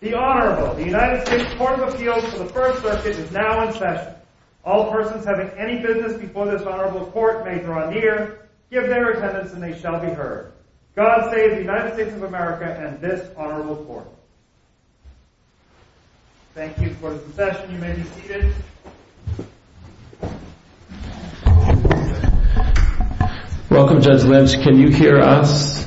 The Honorable, the United States Court of Appeals for the First Circuit is now in session. All persons having any business before this Honorable Court may draw near, give their attendance and they shall be heard. God save the United States of America and this Honorable Court. Thank you for the session, you may be seated. Welcome Judge Lynch, can you hear us?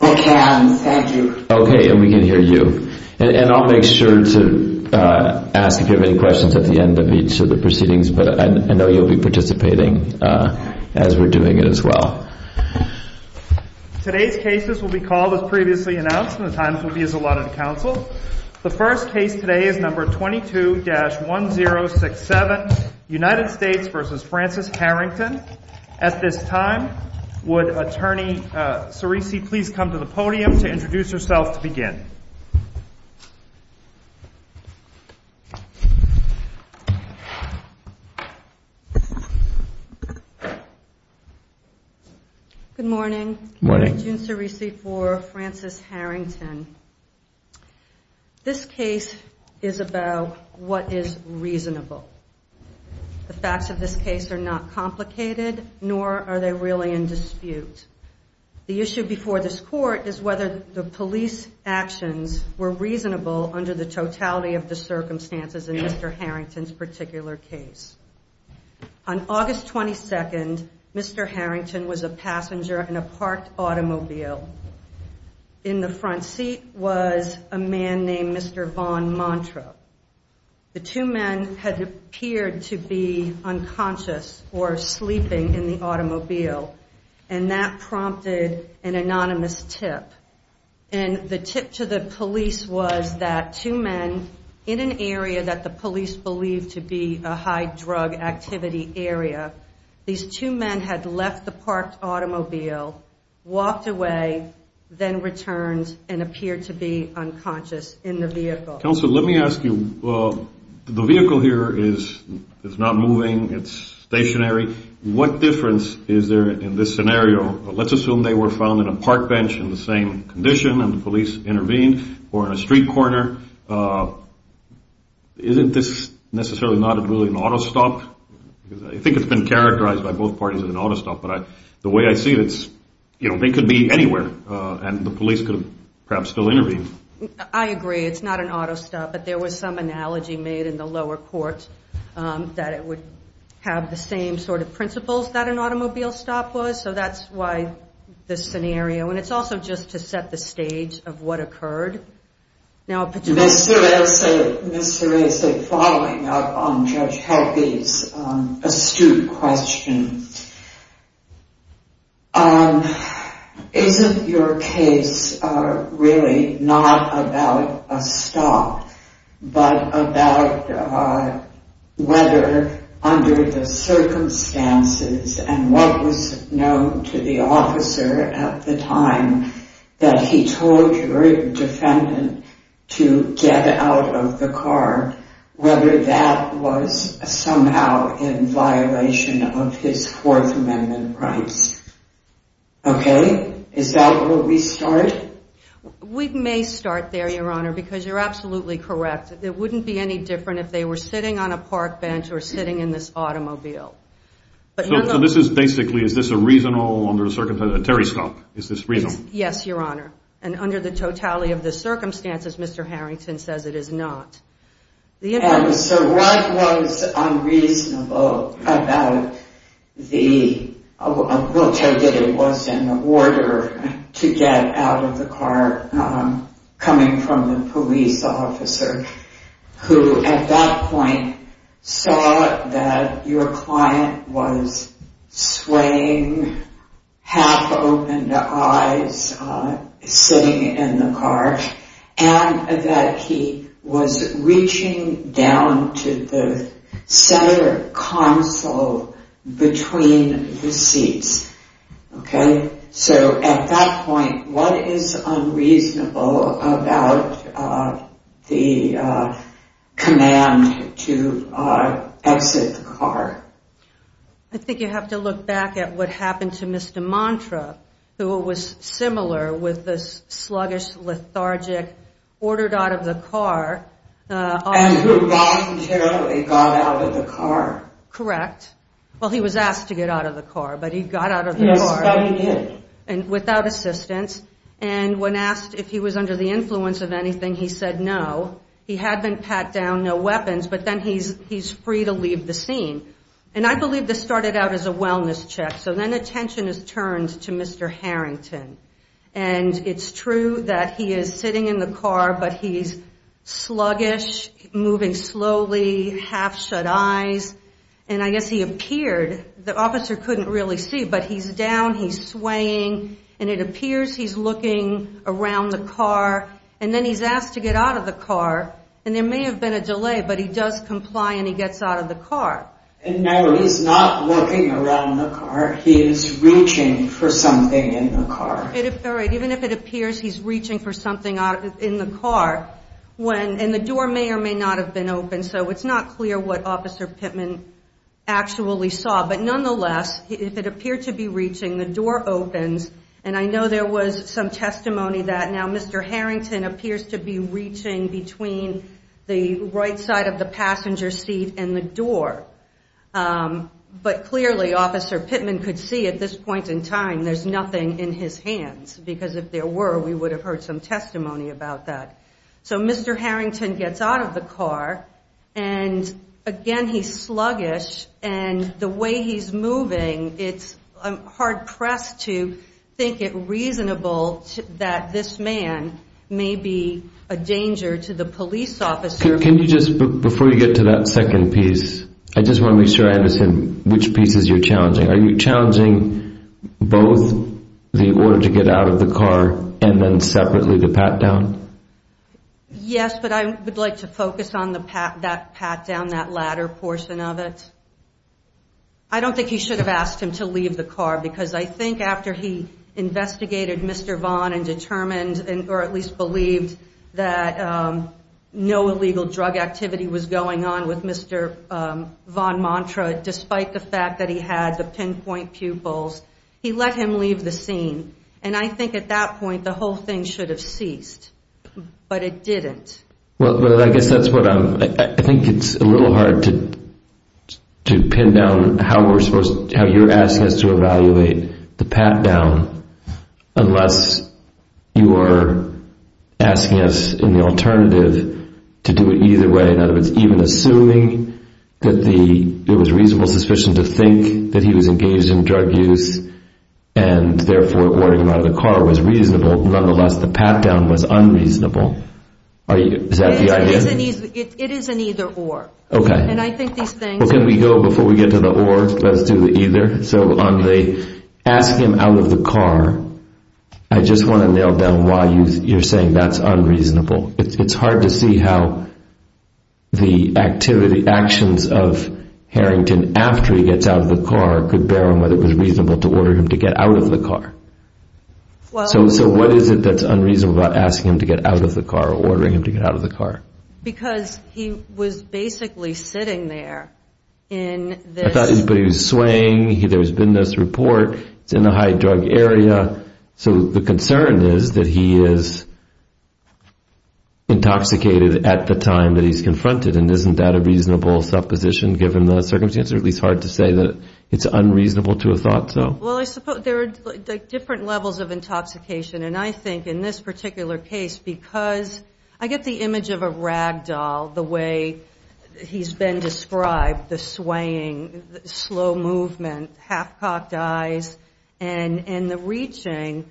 I can, thank you. Okay, and we can hear you. And I'll make sure to ask if you have any questions at the end of each of the proceedings, but I know you'll be participating as we're doing it as well. Today's cases will be called as previously announced and the times will be as allotted to counsel. The first case today is number 22-1067, United States v. Francis Harrington. At this time, would Attorney Cerisi please come to the podium to introduce herself to begin? Good morning. Good morning. I'm June Cerisi for Francis Harrington. This case is about what is reasonable. The facts of this case are not complicated, nor are they really in dispute. The issue before this Court is whether the police actions were reasonable under the totality of the circumstances in Mr. Harrington's particular case. On August 22nd, Mr. Harrington was a passenger in a parked automobile. In the front seat was a man named Mr. Von Mantra. The two men had appeared to be unconscious or sleeping in the automobile, and that prompted an anonymous tip. And the tip to the police was that two men in an area that the police believed to be a high-drug activity area, these two men had left the parked automobile, walked away, then returned and appeared to be unconscious in the vehicle. Counsel, let me ask you, the vehicle here is not moving. It's stationary. What difference is there in this scenario? Let's assume they were found in a park bench in the same condition and the police intervened or in a street corner. Isn't this necessarily not really an auto stop? I think it's been characterized by both parties as an auto stop. But the way I see it, it could be anywhere, and the police could have perhaps still intervened. I agree. It's not an auto stop. But there was some analogy made in the lower court that it would have the same sort of principles that an automobile stop was. So that's why this scenario. And it's also just to set the stage of what occurred. Ms. Teresa, following up on Judge Halby's astute question, isn't your case really not about a stop but about whether under the circumstances and what was known to the officer at the time that he told your defendant to get out of the car, whether that was somehow in violation of his Fourth Amendment rights? Okay? Is that where we start? We may start there, Your Honor, because you're absolutely correct. It wouldn't be any different if they were sitting on a park bench or sitting in this automobile. So this is basically, is this a reasonable under the circumstances, a Terry stop? Is this reasonable? Yes, Your Honor. And under the totality of the circumstances, Mr. Harrington says it is not. And so what was unreasonable about the, we'll tell you that it was an order to get out of the car coming from the police officer, who at that point saw that your client was swaying half-opened eyes, sitting in the car, and that he was reaching down to the center console between the seats. Okay? I think you have to look back at what happened to Mr. Mantra, who was similar with this sluggish, lethargic, ordered out of the car. And who voluntarily got out of the car. Correct. Well, he was asked to get out of the car, but he got out of the car. Yes, so he did. And without assistance. And when asked if he was under the influence of anything, he said no. He had been pat down, no weapons, but then he's free to leave the scene. And I believe this started out as a wellness check. So then attention is turned to Mr. Harrington. And it's true that he is sitting in the car, but he's sluggish, moving slowly, half-shut eyes. And I guess he appeared, the officer couldn't really see, but he's down, he's swaying. And it appears he's looking around the car. And then he's asked to get out of the car. And there may have been a delay, but he does comply and he gets out of the car. And no, he's not looking around the car. He is reaching for something in the car. Even if it appears he's reaching for something in the car. And the door may or may not have been open. So it's not clear what Officer Pittman actually saw. But nonetheless, if it appeared to be reaching, the door opens. And I know there was some testimony that now Mr. Harrington appears to be reaching between the right side of the passenger seat and the door. But clearly Officer Pittman could see at this point in time there's nothing in his hands. Because if there were, we would have heard some testimony about that. So Mr. Harrington gets out of the car. And, again, he's sluggish. And the way he's moving, it's hard-pressed to think it reasonable that this man may be a danger to the police officer. Can you just, before you get to that second piece, I just want to make sure I understand which pieces you're challenging. Are you challenging both the order to get out of the car and then separately to pat down? Yes, but I would like to focus on that pat down, that latter portion of it. I don't think he should have asked him to leave the car. Because I think after he investigated Mr. Vaughn and determined, or at least believed, that no illegal drug activity was going on with Mr. Vaughn Mantra, despite the fact that he had the pinpoint pupils, he let him leave the scene. And I think at that point the whole thing should have ceased. But it didn't. Well, I guess that's what I'm, I think it's a little hard to pin down how you're asking us to evaluate the pat down unless you are asking us in the alternative to do it either way. In other words, even assuming that it was reasonable suspicion to think that he was engaged in drug use and therefore ordering him out of the car was reasonable, nonetheless the pat down was unreasonable. Is that the idea? It is an either or. Okay. And I think these things... Well, can we go, before we get to the or, let's do the either. So on the ask him out of the car, I just want to nail down why you're saying that's unreasonable. It's hard to see how the activity, actions of Harrington after he gets out of the car could bear on whether it was reasonable to order him to get out of the car. So what is it that's unreasonable about asking him to get out of the car or ordering him to get out of the car? Because he was basically sitting there in this... I thought he was swaying. There's been this report. It's in the high drug area. So the concern is that he is intoxicated at the time that he's confronted. And isn't that a reasonable supposition given the circumstances? Or at least hard to say that it's unreasonable to have thought so? Well, I suppose there are different levels of intoxication. And I think in this particular case, because I get the image of a rag doll, the way he's been described, the swaying, slow movement, half-cocked eyes, and the reaching.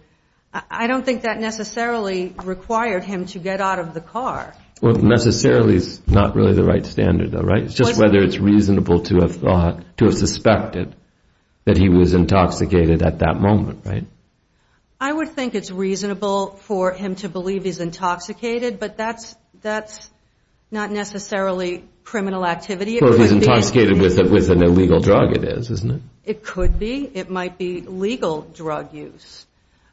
I don't think that necessarily required him to get out of the car. Well, necessarily is not really the right standard though, right? It's just whether it's reasonable to have suspected that he was intoxicated at that moment, right? I would think it's reasonable for him to believe he's intoxicated, but that's not necessarily criminal activity. Well, if he's intoxicated with an illegal drug, it is, isn't it? It could be. It might be legal drug use.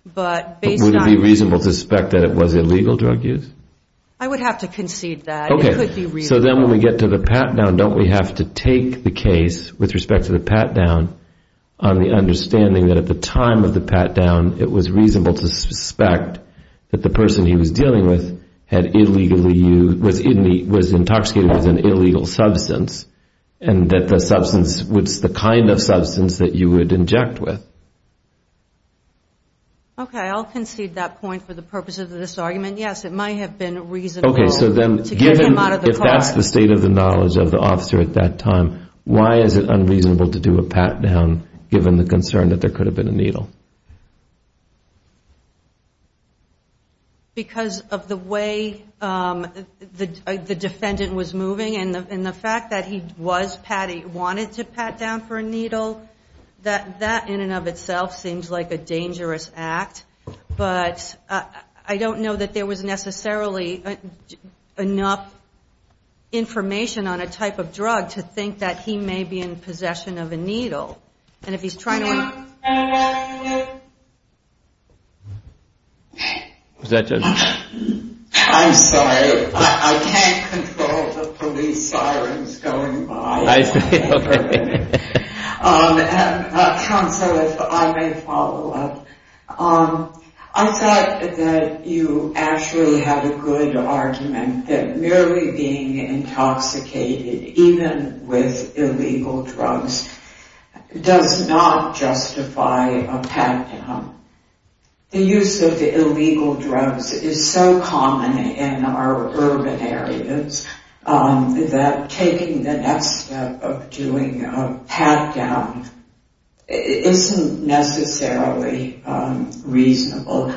But would it be reasonable to suspect that it was illegal drug use? I would have to concede that. So then when we get to the pat-down, don't we have to take the case with respect to the pat-down on the understanding that at the time of the pat-down, it was reasonable to suspect that the person he was dealing with was intoxicated with an illegal substance and that the substance was the kind of substance that you would inject with? Okay, I'll concede that point for the purpose of this argument. Yes, it might have been reasonable. Okay, so then given if that's the state of the knowledge of the officer at that time, why is it unreasonable to do a pat-down given the concern that there could have been a needle? Because of the way the defendant was moving and the fact that he was patty, wanted to pat down for a needle, that in and of itself seems like a dangerous act. But I don't know that there was necessarily enough information on a type of drug to think that he may be in possession of a needle. And if he's trying to... John, can you hear me? I'm sorry, I can't control the police sirens going by. I see, okay. John, so if I may follow up. I thought that you actually had a good argument that merely being intoxicated, even with illegal drugs, does not justify a pat-down. The use of the illegal drugs is so common in our urban areas that taking the next step of doing a pat-down isn't necessarily reasonable.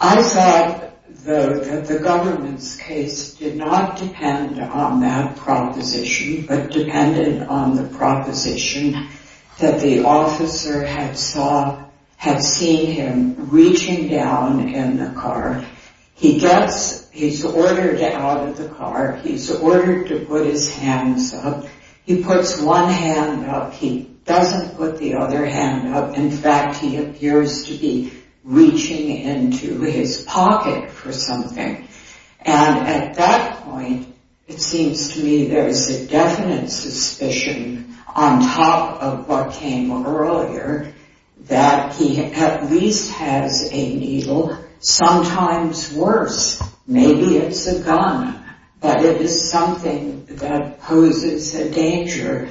I thought that the government's case did not depend on that proposition but depended on the proposition that the officer had seen him reaching down in the car. He's ordered out of the car. He's ordered to put his hands up. He puts one hand up. He doesn't put the other hand up. In fact, he appears to be reaching into his pocket for something. And at that point, it seems to me there is a definite suspicion on top of what came earlier that he at least has a needle. Sometimes worse. Maybe it's a gun. But it is something that poses a danger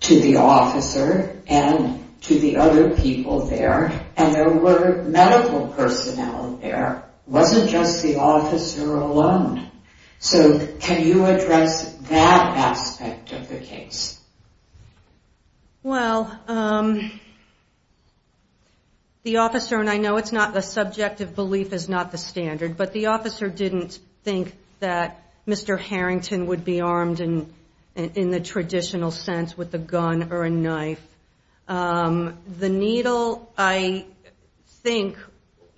to the officer and to the other people there. And there were medical personnel there. It wasn't just the officer alone. So can you address that aspect of the case? Well, the officer, and I know it's not the subjective belief is not the standard, but the officer didn't think that Mr. Harrington would be armed in the traditional sense with a gun or a knife. The needle, I think,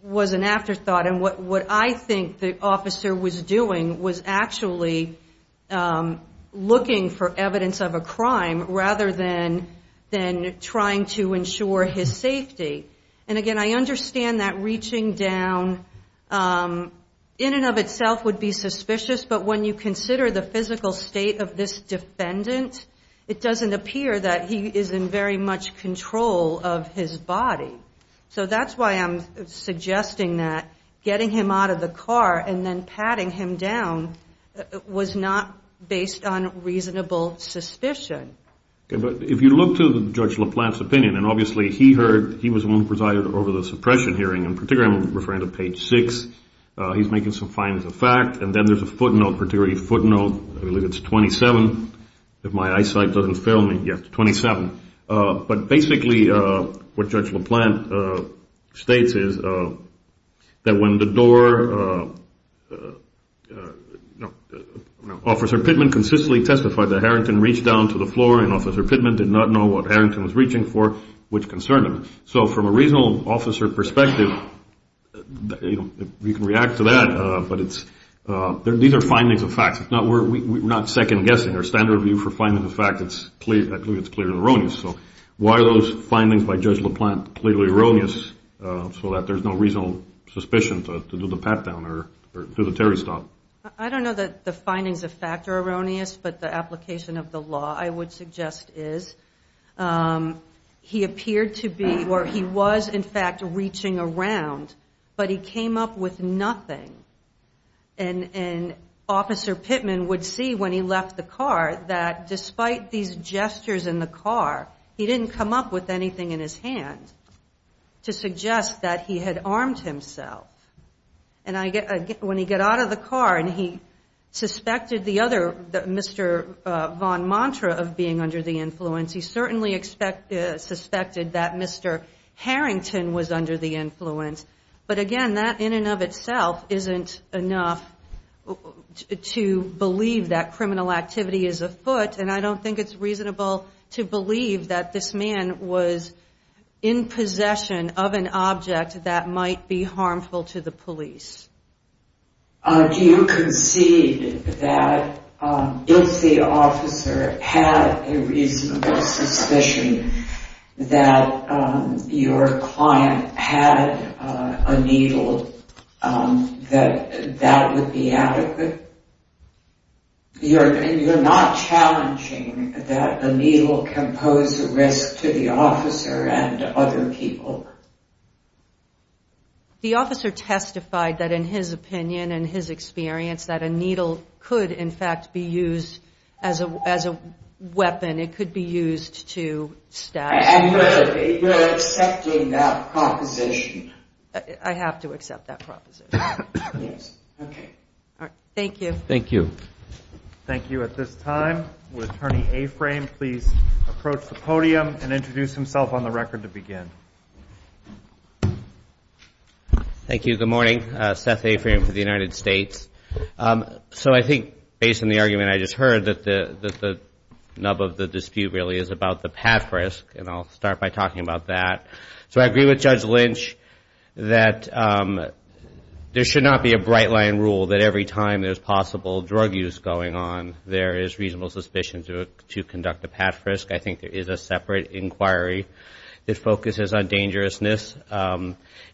was an afterthought. And what I think the officer was doing was actually looking for evidence of a crime rather than trying to ensure his safety. And again, I understand that reaching down in and of itself would be suspicious, but when you consider the physical state of this defendant, it doesn't appear that he is in very much control of his body. So that's why I'm suggesting that getting him out of the car and then patting him down was not based on reasonable suspicion. Okay, but if you look to Judge LaPlante's opinion, and obviously he was the one who presided over the suppression hearing. In particular, I'm referring to page 6. He's making some findings of fact. And then there's a footnote, particularly a footnote. I believe it's 27. If my eyesight doesn't fail me. Yes, 27. But basically what Judge LaPlante states is that when the door, Officer Pittman consistently testified that Harrington reached down to the floor and Officer Pittman did not know what Harrington was reaching for, which concerned him. So from a reasonable officer perspective, you can react to that, but these are findings of fact. We're not second-guessing. Our standard view for findings of fact, I believe it's clearly erroneous. So why are those findings by Judge LaPlante clearly erroneous so that there's no reasonable suspicion to do the pat-down or do the Terry stop? I don't know that the findings of fact are erroneous, but the application of the law I would suggest is he appeared to be or he was in fact reaching around, but he came up with nothing. And Officer Pittman would see when he left the car that despite these gestures in the car, he didn't come up with anything in his hand to suggest that he had armed himself. And when he got out of the car and he suspected the other, Mr. Von Mantra of being under the influence, he certainly suspected that Mr. Harrington was under the influence. But again, that in and of itself isn't enough to believe that criminal activity is afoot, and I don't think it's reasonable to believe that this man was in possession of an object that might be harmful to the police. Do you concede that if the officer had a reasonable suspicion that your client had a needle, that that would be adequate? You're not challenging that a needle can pose a risk to the officer and other people? The officer testified that in his opinion and his experience, that a needle could in fact be used as a weapon. And it could be used to stab. And you're accepting that proposition? I have to accept that proposition. Yes. Okay. All right. Thank you. Thank you. Thank you. At this time, would Attorney Aframe please approach the podium and introduce himself on the record to begin? Thank you. Good morning. Seth Aframe for the United States. So I think, based on the argument I just heard, that the nub of the dispute really is about the pad frisk, and I'll start by talking about that. So I agree with Judge Lynch that there should not be a bright-line rule that every time there's possible drug use going on, there is reasonable suspicion to conduct a pad frisk. I think there is a separate inquiry that focuses on dangerousness.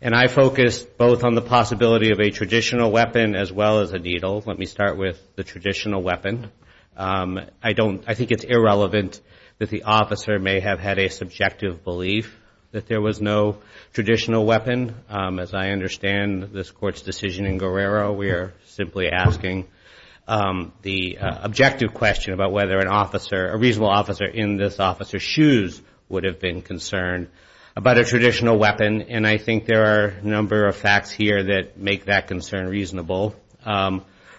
And I focus both on the possibility of a traditional weapon as well as a needle. Let me start with the traditional weapon. I think it's irrelevant that the officer may have had a subjective belief that there was no traditional weapon. As I understand this Court's decision in Guerrero, we are simply asking the objective question about whether a reasonable officer in this officer's shoes would have been concerned about a traditional weapon. And I think there are a number of facts here that make that concern reasonable.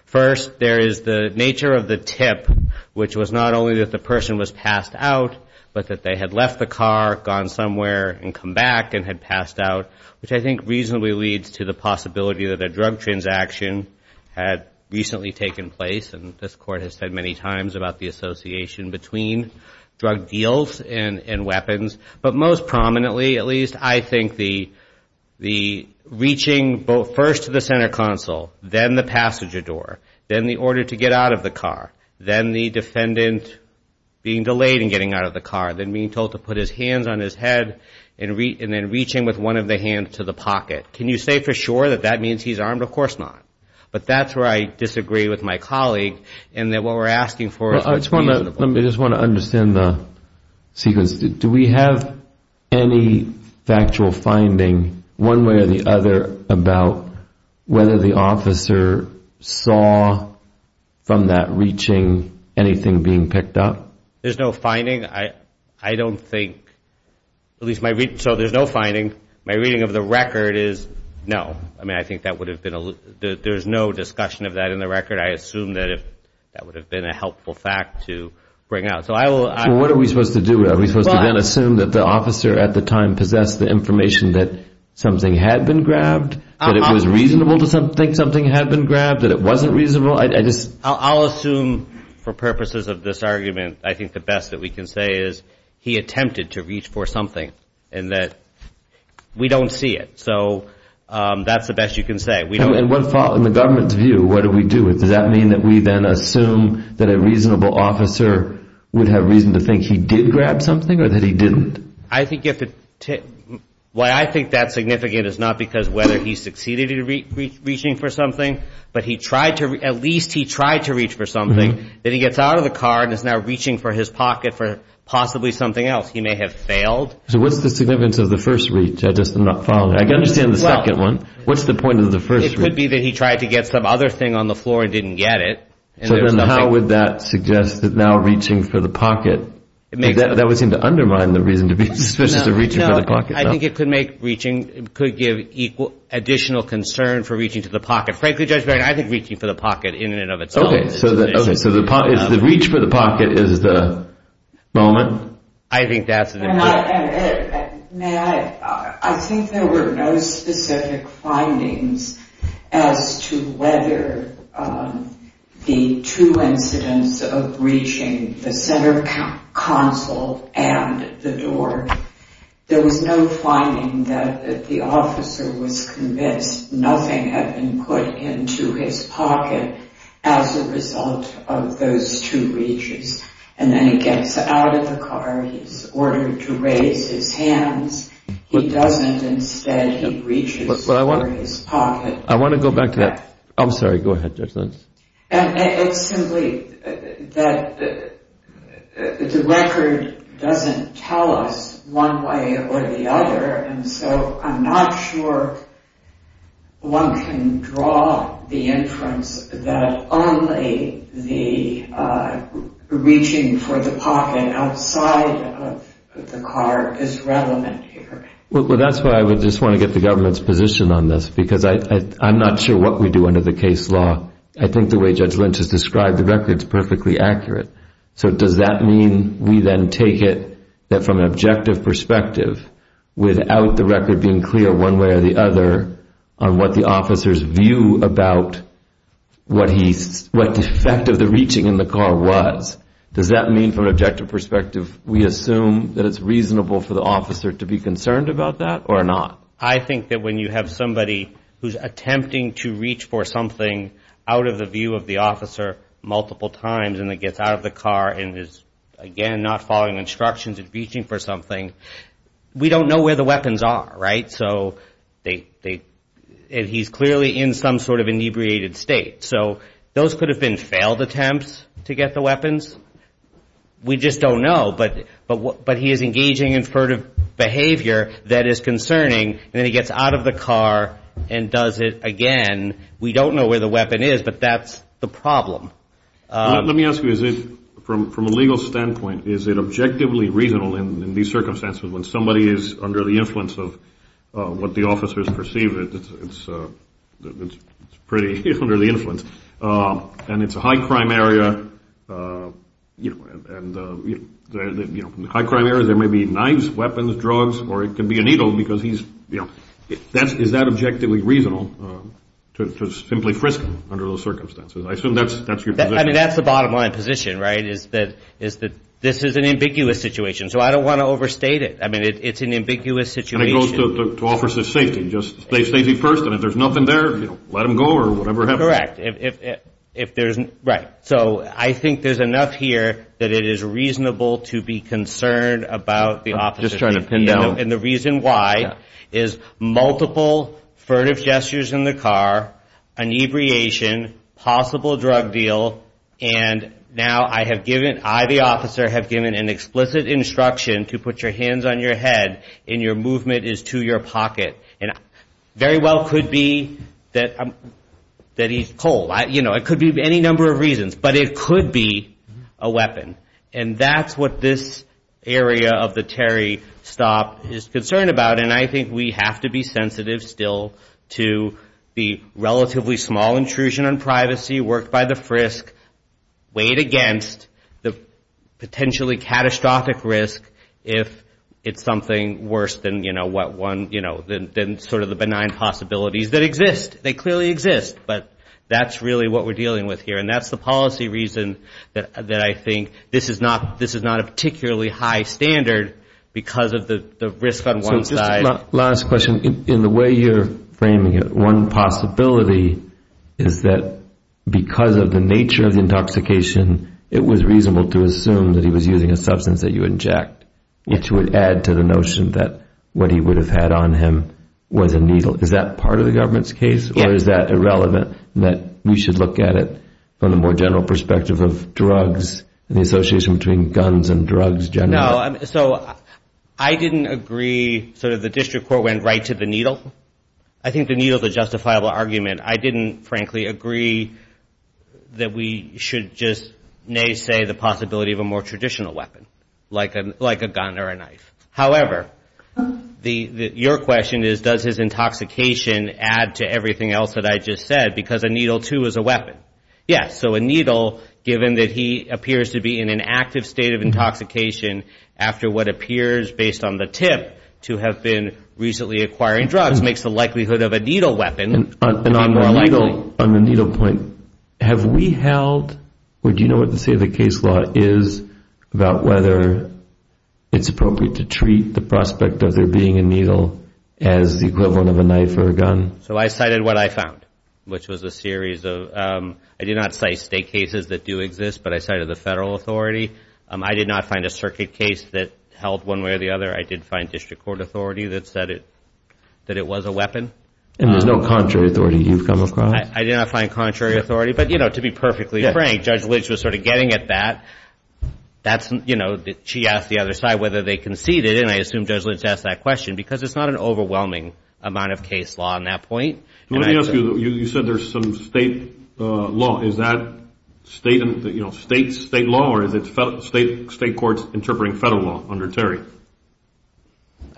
First, there is the nature of the tip, which was not only that the person was passed out, but that they had left the car, gone somewhere, and come back and had passed out, which I think reasonably leads to the possibility that a drug transaction had recently taken place, and this Court has said many times about the association between drug deals and weapons. But most prominently, at least, I think the reaching first to the center console, then the passenger door, then the order to get out of the car, then the defendant being delayed in getting out of the car, then being told to put his hands on his head, and then reaching with one of the hands to the pocket. Can you say for sure that that means he's armed? Of course not. But that's where I disagree with my colleague, in that what we're asking for is reasonable. I just want to understand the sequence. Do we have any factual finding, one way or the other, about whether the officer saw from that reaching anything being picked up? There's no finding. I don't think. So there's no finding. My reading of the record is no. I mean, I think there's no discussion of that in the record. I assume that that would have been a helpful fact to bring out. So what are we supposed to do? Are we supposed to then assume that the officer at the time possessed the information that something had been grabbed, that it was reasonable to think something had been grabbed, that it wasn't reasonable? I'll assume for purposes of this argument, I think the best that we can say is he attempted to reach for something, and that we don't see it. So that's the best you can say. In the government's view, what do we do with it? Does that mean that we then assume that a reasonable officer would have reason to think he did grab something or that he didn't? I think that's significant. It's not because whether he succeeded in reaching for something, but at least he tried to reach for something. Then he gets out of the car and is now reaching for his pocket for possibly something else. He may have failed. So what's the significance of the first reach? I can understand the second one. What's the point of the first reach? It could be that he tried to get some other thing on the floor and didn't get it. So then how would that suggest that now reaching for the pocket, that would seem to undermine the reason to be suspicious of reaching for the pocket. I think it could give additional concern for reaching for the pocket. Frankly, Judge Barron, I think reaching for the pocket in and of itself. Okay, so the reach for the pocket is the moment? I think that's it. May I? I think there were no specific findings as to whether the two incidents of reaching the center console and the door, there was no finding that the officer was convinced nothing had been put into his pocket as a result of those two reaches. And then he gets out of the car. He's ordered to raise his hands. He doesn't. Instead he reaches for his pocket. I want to go back to that. I'm sorry. Go ahead, Judge Lentz. It's simply that the record doesn't tell us one way or the other. And so I'm not sure one can draw the inference that only the reaching for the pocket outside of the car is relevant here. Well, that's why I would just want to get the government's position on this because I'm not sure what we do under the case law. I think the way Judge Lentz has described the record is perfectly accurate. So does that mean we then take it that from an objective perspective, without the record being clear one way or the other on what the officer's view about what the effect of the reaching in the car was, does that mean from an objective perspective we assume that it's reasonable for the officer to be concerned about that or not? I think that when you have somebody who's attempting to reach for something out of the view of the officer multiple times and then gets out of the car and is, again, not following instructions and reaching for something, we don't know where the weapons are, right? And so he's clearly in some sort of inebriated state. So those could have been failed attempts to get the weapons. We just don't know. But he is engaging in furtive behavior that is concerning, and then he gets out of the car and does it again. We don't know where the weapon is, but that's the problem. Let me ask you, from a legal standpoint, is it objectively reasonable in these circumstances when somebody is under the influence of what the officers perceive, it's pretty under the influence, and it's a high-crime area, and in the high-crime areas there may be knives, weapons, drugs, or it can be a needle because he's, you know. Is that objectively reasonable to simply frisk him under those circumstances? I assume that's your position. I mean, that's the bottom line position, right, is that this is an ambiguous situation. So I don't want to overstate it. I mean, it's an ambiguous situation. And it goes to officers' safety, just safety first, and if there's nothing there, let him go or whatever happens. Correct. Right. So I think there's enough here that it is reasonable to be concerned about the officer's safety. I'm just trying to pin down. And the reason why is multiple furtive gestures in the car, inebriation, possible drug deal, and now I have given, I, the officer, have given an explicit instruction to put your hands on your head and your movement is to your pocket, and very well could be that he's cold. You know, it could be any number of reasons, but it could be a weapon. And that's what this area of the Terry stop is concerned about, and I think we have to be sensitive still to the relatively small intrusion on privacy worked by the FRISC weighed against the potentially catastrophic risk if it's something worse than, you know, what one, you know, than sort of the benign possibilities that exist. They clearly exist, but that's really what we're dealing with here, and that's the policy reason that I think this is not a particularly high standard because of the risk on one side. Last question. In the way you're framing it, one possibility is that because of the nature of the intoxication, it was reasonable to assume that he was using a substance that you inject, which would add to the notion that what he would have had on him was a needle. Is that part of the government's case, or is that irrelevant, that we should look at it from the more general perspective of drugs and the association between guns and drugs generally? So I didn't agree sort of the district court went right to the needle. I think the needle is a justifiable argument. I didn't, frankly, agree that we should just, nay, say the possibility of a more traditional weapon like a gun or a knife. However, your question is does his intoxication add to everything else that I just said because a needle too is a weapon. Yes, so a needle, given that he appears to be in an active state of intoxication after what appears, based on the tip, to have been recently acquiring drugs, makes the likelihood of a needle weapon even more likely. And on the needle point, have we held, or do you know what the state of the case law is about whether it's appropriate to treat the prospect of there being a needle as the equivalent of a knife or a gun? So I cited what I found, which was a series of, I did not cite state cases that do exist, but I cited the federal authority. I did not find a circuit case that held one way or the other. I did find district court authority that said that it was a weapon. And there's no contrary authority you've come across? I did not find contrary authority, but, you know, to be perfectly frank, Judge Lynch was sort of getting at that. She asked the other side whether they conceded, and I assume Judge Lynch asked that question because it's not an overwhelming amount of case law on that point. Let me ask you, you said there's some state law. Is that state law, or is it state courts interpreting federal law under Terry?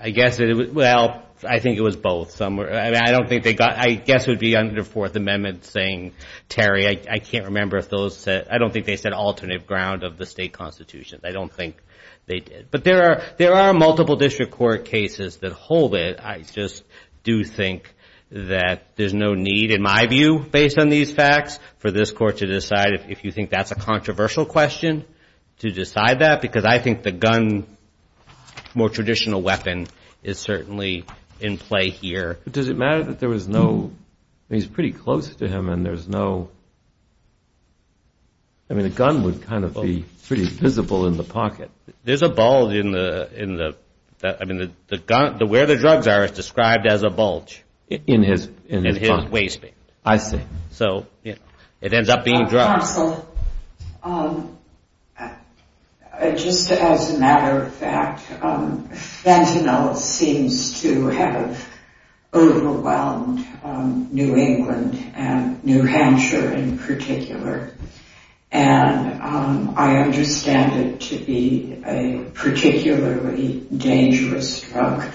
I guess it was, well, I think it was both. I don't think they got, I guess it would be under Fourth Amendment saying, Terry, I can't remember if those said, I don't think they said alternative ground of the state constitution. I don't think they did. But there are multiple district court cases that hold it. I just do think that there's no need, in my view, based on these facts, for this court to decide if you think that's a controversial question to decide that, because I think the gun, more traditional weapon, is certainly in play here. But does it matter that there was no, I mean, he's pretty close to him, and there's no, I mean, a gun would kind of be pretty visible in the pocket. There's a bulge in the, I mean, where the drugs are is described as a bulge. In his pocket. In his waistband. I see. So it ends up being drugs. Counsel, just as a matter of fact, fentanyl seems to have overwhelmed New England and New Hampshire in particular. And I understand it to be a particularly dangerous drug.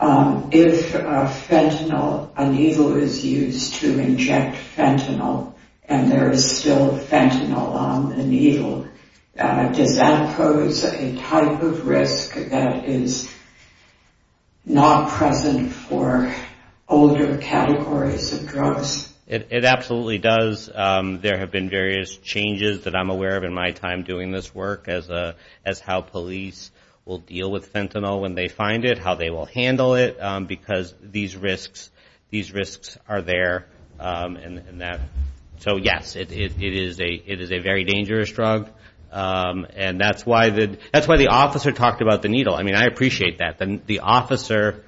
If fentanyl, a needle is used to inject fentanyl, and there is still fentanyl on the needle, does that pose a type of risk that is not present for older categories of drugs? It absolutely does. There have been various changes that I'm aware of in my time doing this work as how police will deal with fentanyl when they find it, how they will handle it, because these risks are there. So, yes, it is a very dangerous drug. And that's why the officer talked about the needle. I mean, I appreciate that. The officer,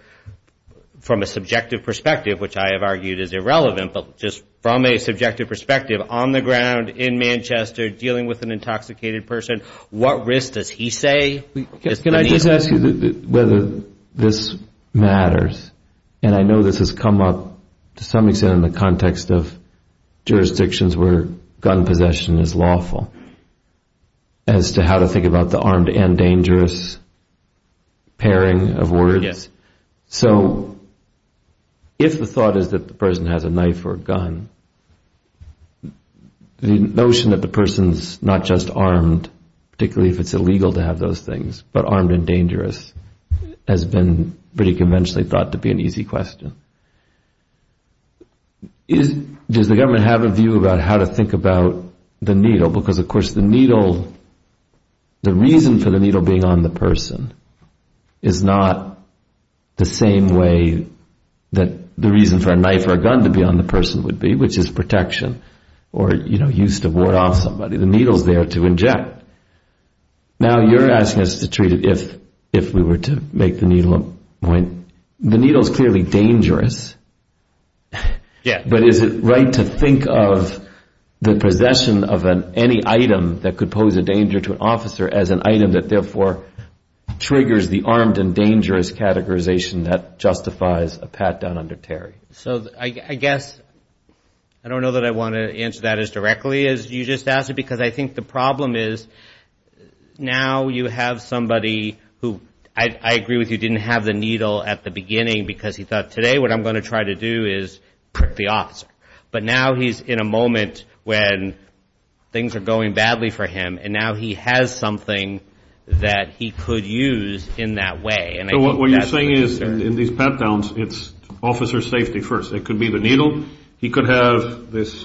from a subjective perspective, which I have argued is irrelevant, but just from a subjective perspective, on the ground, in Manchester, dealing with an intoxicated person, what risk does he say? Can I just ask you whether this matters? And I know this has come up to some extent in the context of jurisdictions where gun possession is lawful, as to how to think about the armed and dangerous pairing of words. So if the thought is that the person has a knife or a gun, the notion that the person is not just armed, particularly if it's illegal to have those things, but armed and dangerous, has been pretty conventionally thought to be an easy question. Does the government have a view about how to think about the needle? Because, of course, the reason for the needle being on the person is not the same way that the reason for a knife or a gun to be on the person would be, which is protection, or used to ward off somebody. The needle's there to inject. Now you're asking us to treat it if we were to make the needle a point. The needle's clearly dangerous. But is it right to think of the possession of any item that could pose a danger to an officer as an item that, therefore, triggers the armed and dangerous categorization that justifies a pat down under Terry? So I guess I don't know that I want to answer that as directly as you just asked it, because I think the problem is now you have somebody who I agree with you didn't have the needle at the beginning, because he thought today what I'm going to try to do is prick the officer. But now he's in a moment when things are going badly for him, and now he has something that he could use in that way. So what you're saying is in these pat downs it's officer safety first. It could be the needle. He could have this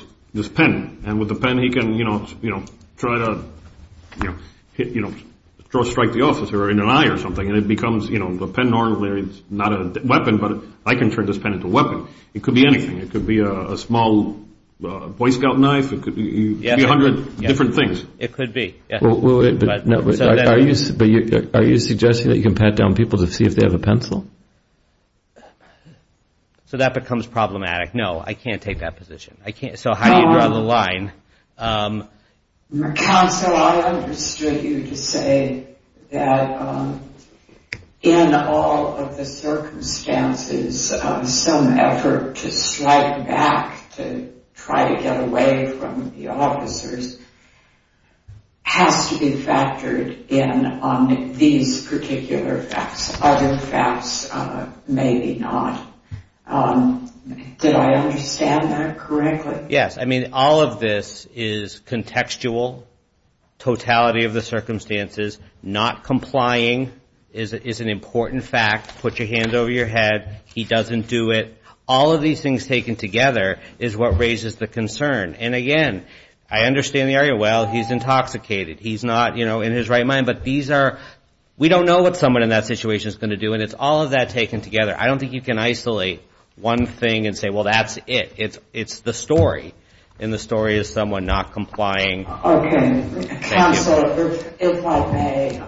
pen, and with the pen he can try to strike the officer in an eye or something, and the pen normally is not a weapon, but I can turn this pen into a weapon. It could be anything. It could be a small Boy Scout knife. It could be a hundred different things. It could be. But are you suggesting that you can pat down people to see if they have a pencil? So that becomes problematic. No, I can't take that position. So how do you draw the line? Counsel, I understood you to say that in all of the circumstances, some effort to strike back, to try to get away from the officers, has to be factored in on these particular facts. Other facts maybe not. Did I understand that correctly? Yes. I mean, all of this is contextual, totality of the circumstances. Not complying is an important fact. Put your hands over your head. He doesn't do it. All of these things taken together is what raises the concern. And, again, I understand the area, well, he's intoxicated. He's not, you know, in his right mind. But these are we don't know what someone in that situation is going to do, and it's all of that taken together. I don't think you can isolate one thing and say, well, that's it. It's the story, and the story is someone not complying. Okay. Counsel, if I may,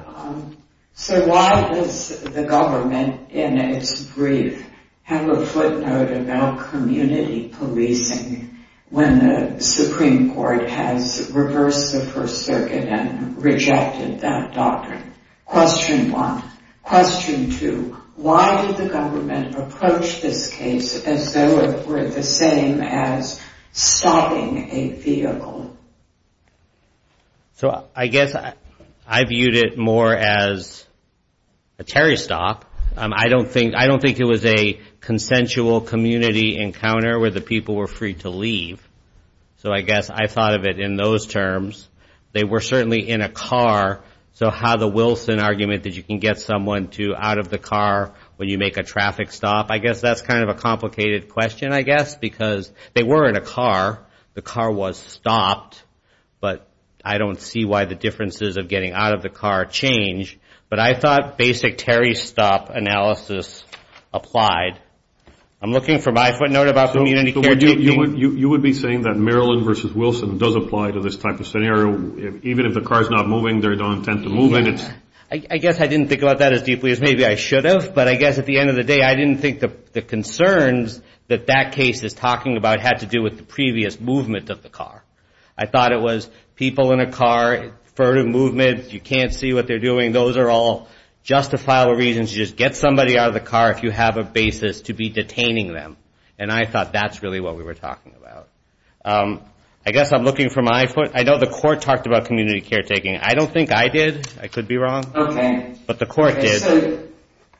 so why does the government, in its brief, have a footnote about community policing when the Supreme Court has reversed the First Circuit and rejected that doctrine? Question one. Question two, why did the government approach this case as though it were the same as stopping a vehicle? So I guess I viewed it more as a Terry stop. I don't think it was a consensual community encounter where the people were free to leave. So I guess I thought of it in those terms. They were certainly in a car, so how the Wilson argument that you can get someone out of the car when you make a traffic stop, I guess that's kind of a complicated question, I guess, because they were in a car. The car was stopped, but I don't see why the differences of getting out of the car change. But I thought basic Terry stop analysis applied. I'm looking for my footnote about community caretaking. So you would be saying that Maryland versus Wilson does apply to this type of scenario, even if the car is not moving, they don't intend to move it. I guess I didn't think about that as deeply as maybe I should have, but I guess at the end of the day, I didn't think the concerns that that case is talking about had to do with the previous movement of the car. I thought it was people in a car, further movement, you can't see what they're doing. Those are all justifiable reasons to just get somebody out of the car if you have a basis to be detaining them. And I thought that's really what we were talking about. I guess I'm looking for my footnote. I know the court talked about community caretaking. I don't think I did. I could be wrong. Okay. But the court did. So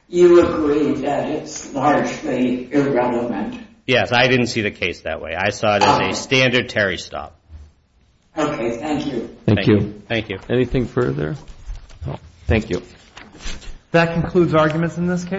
you agree that it's largely irrelevant. Yes, I didn't see the case that way. I saw it as a standard Terry stop. Okay, thank you. Thank you. Anything further? No. Thank you. That concludes arguments in this case.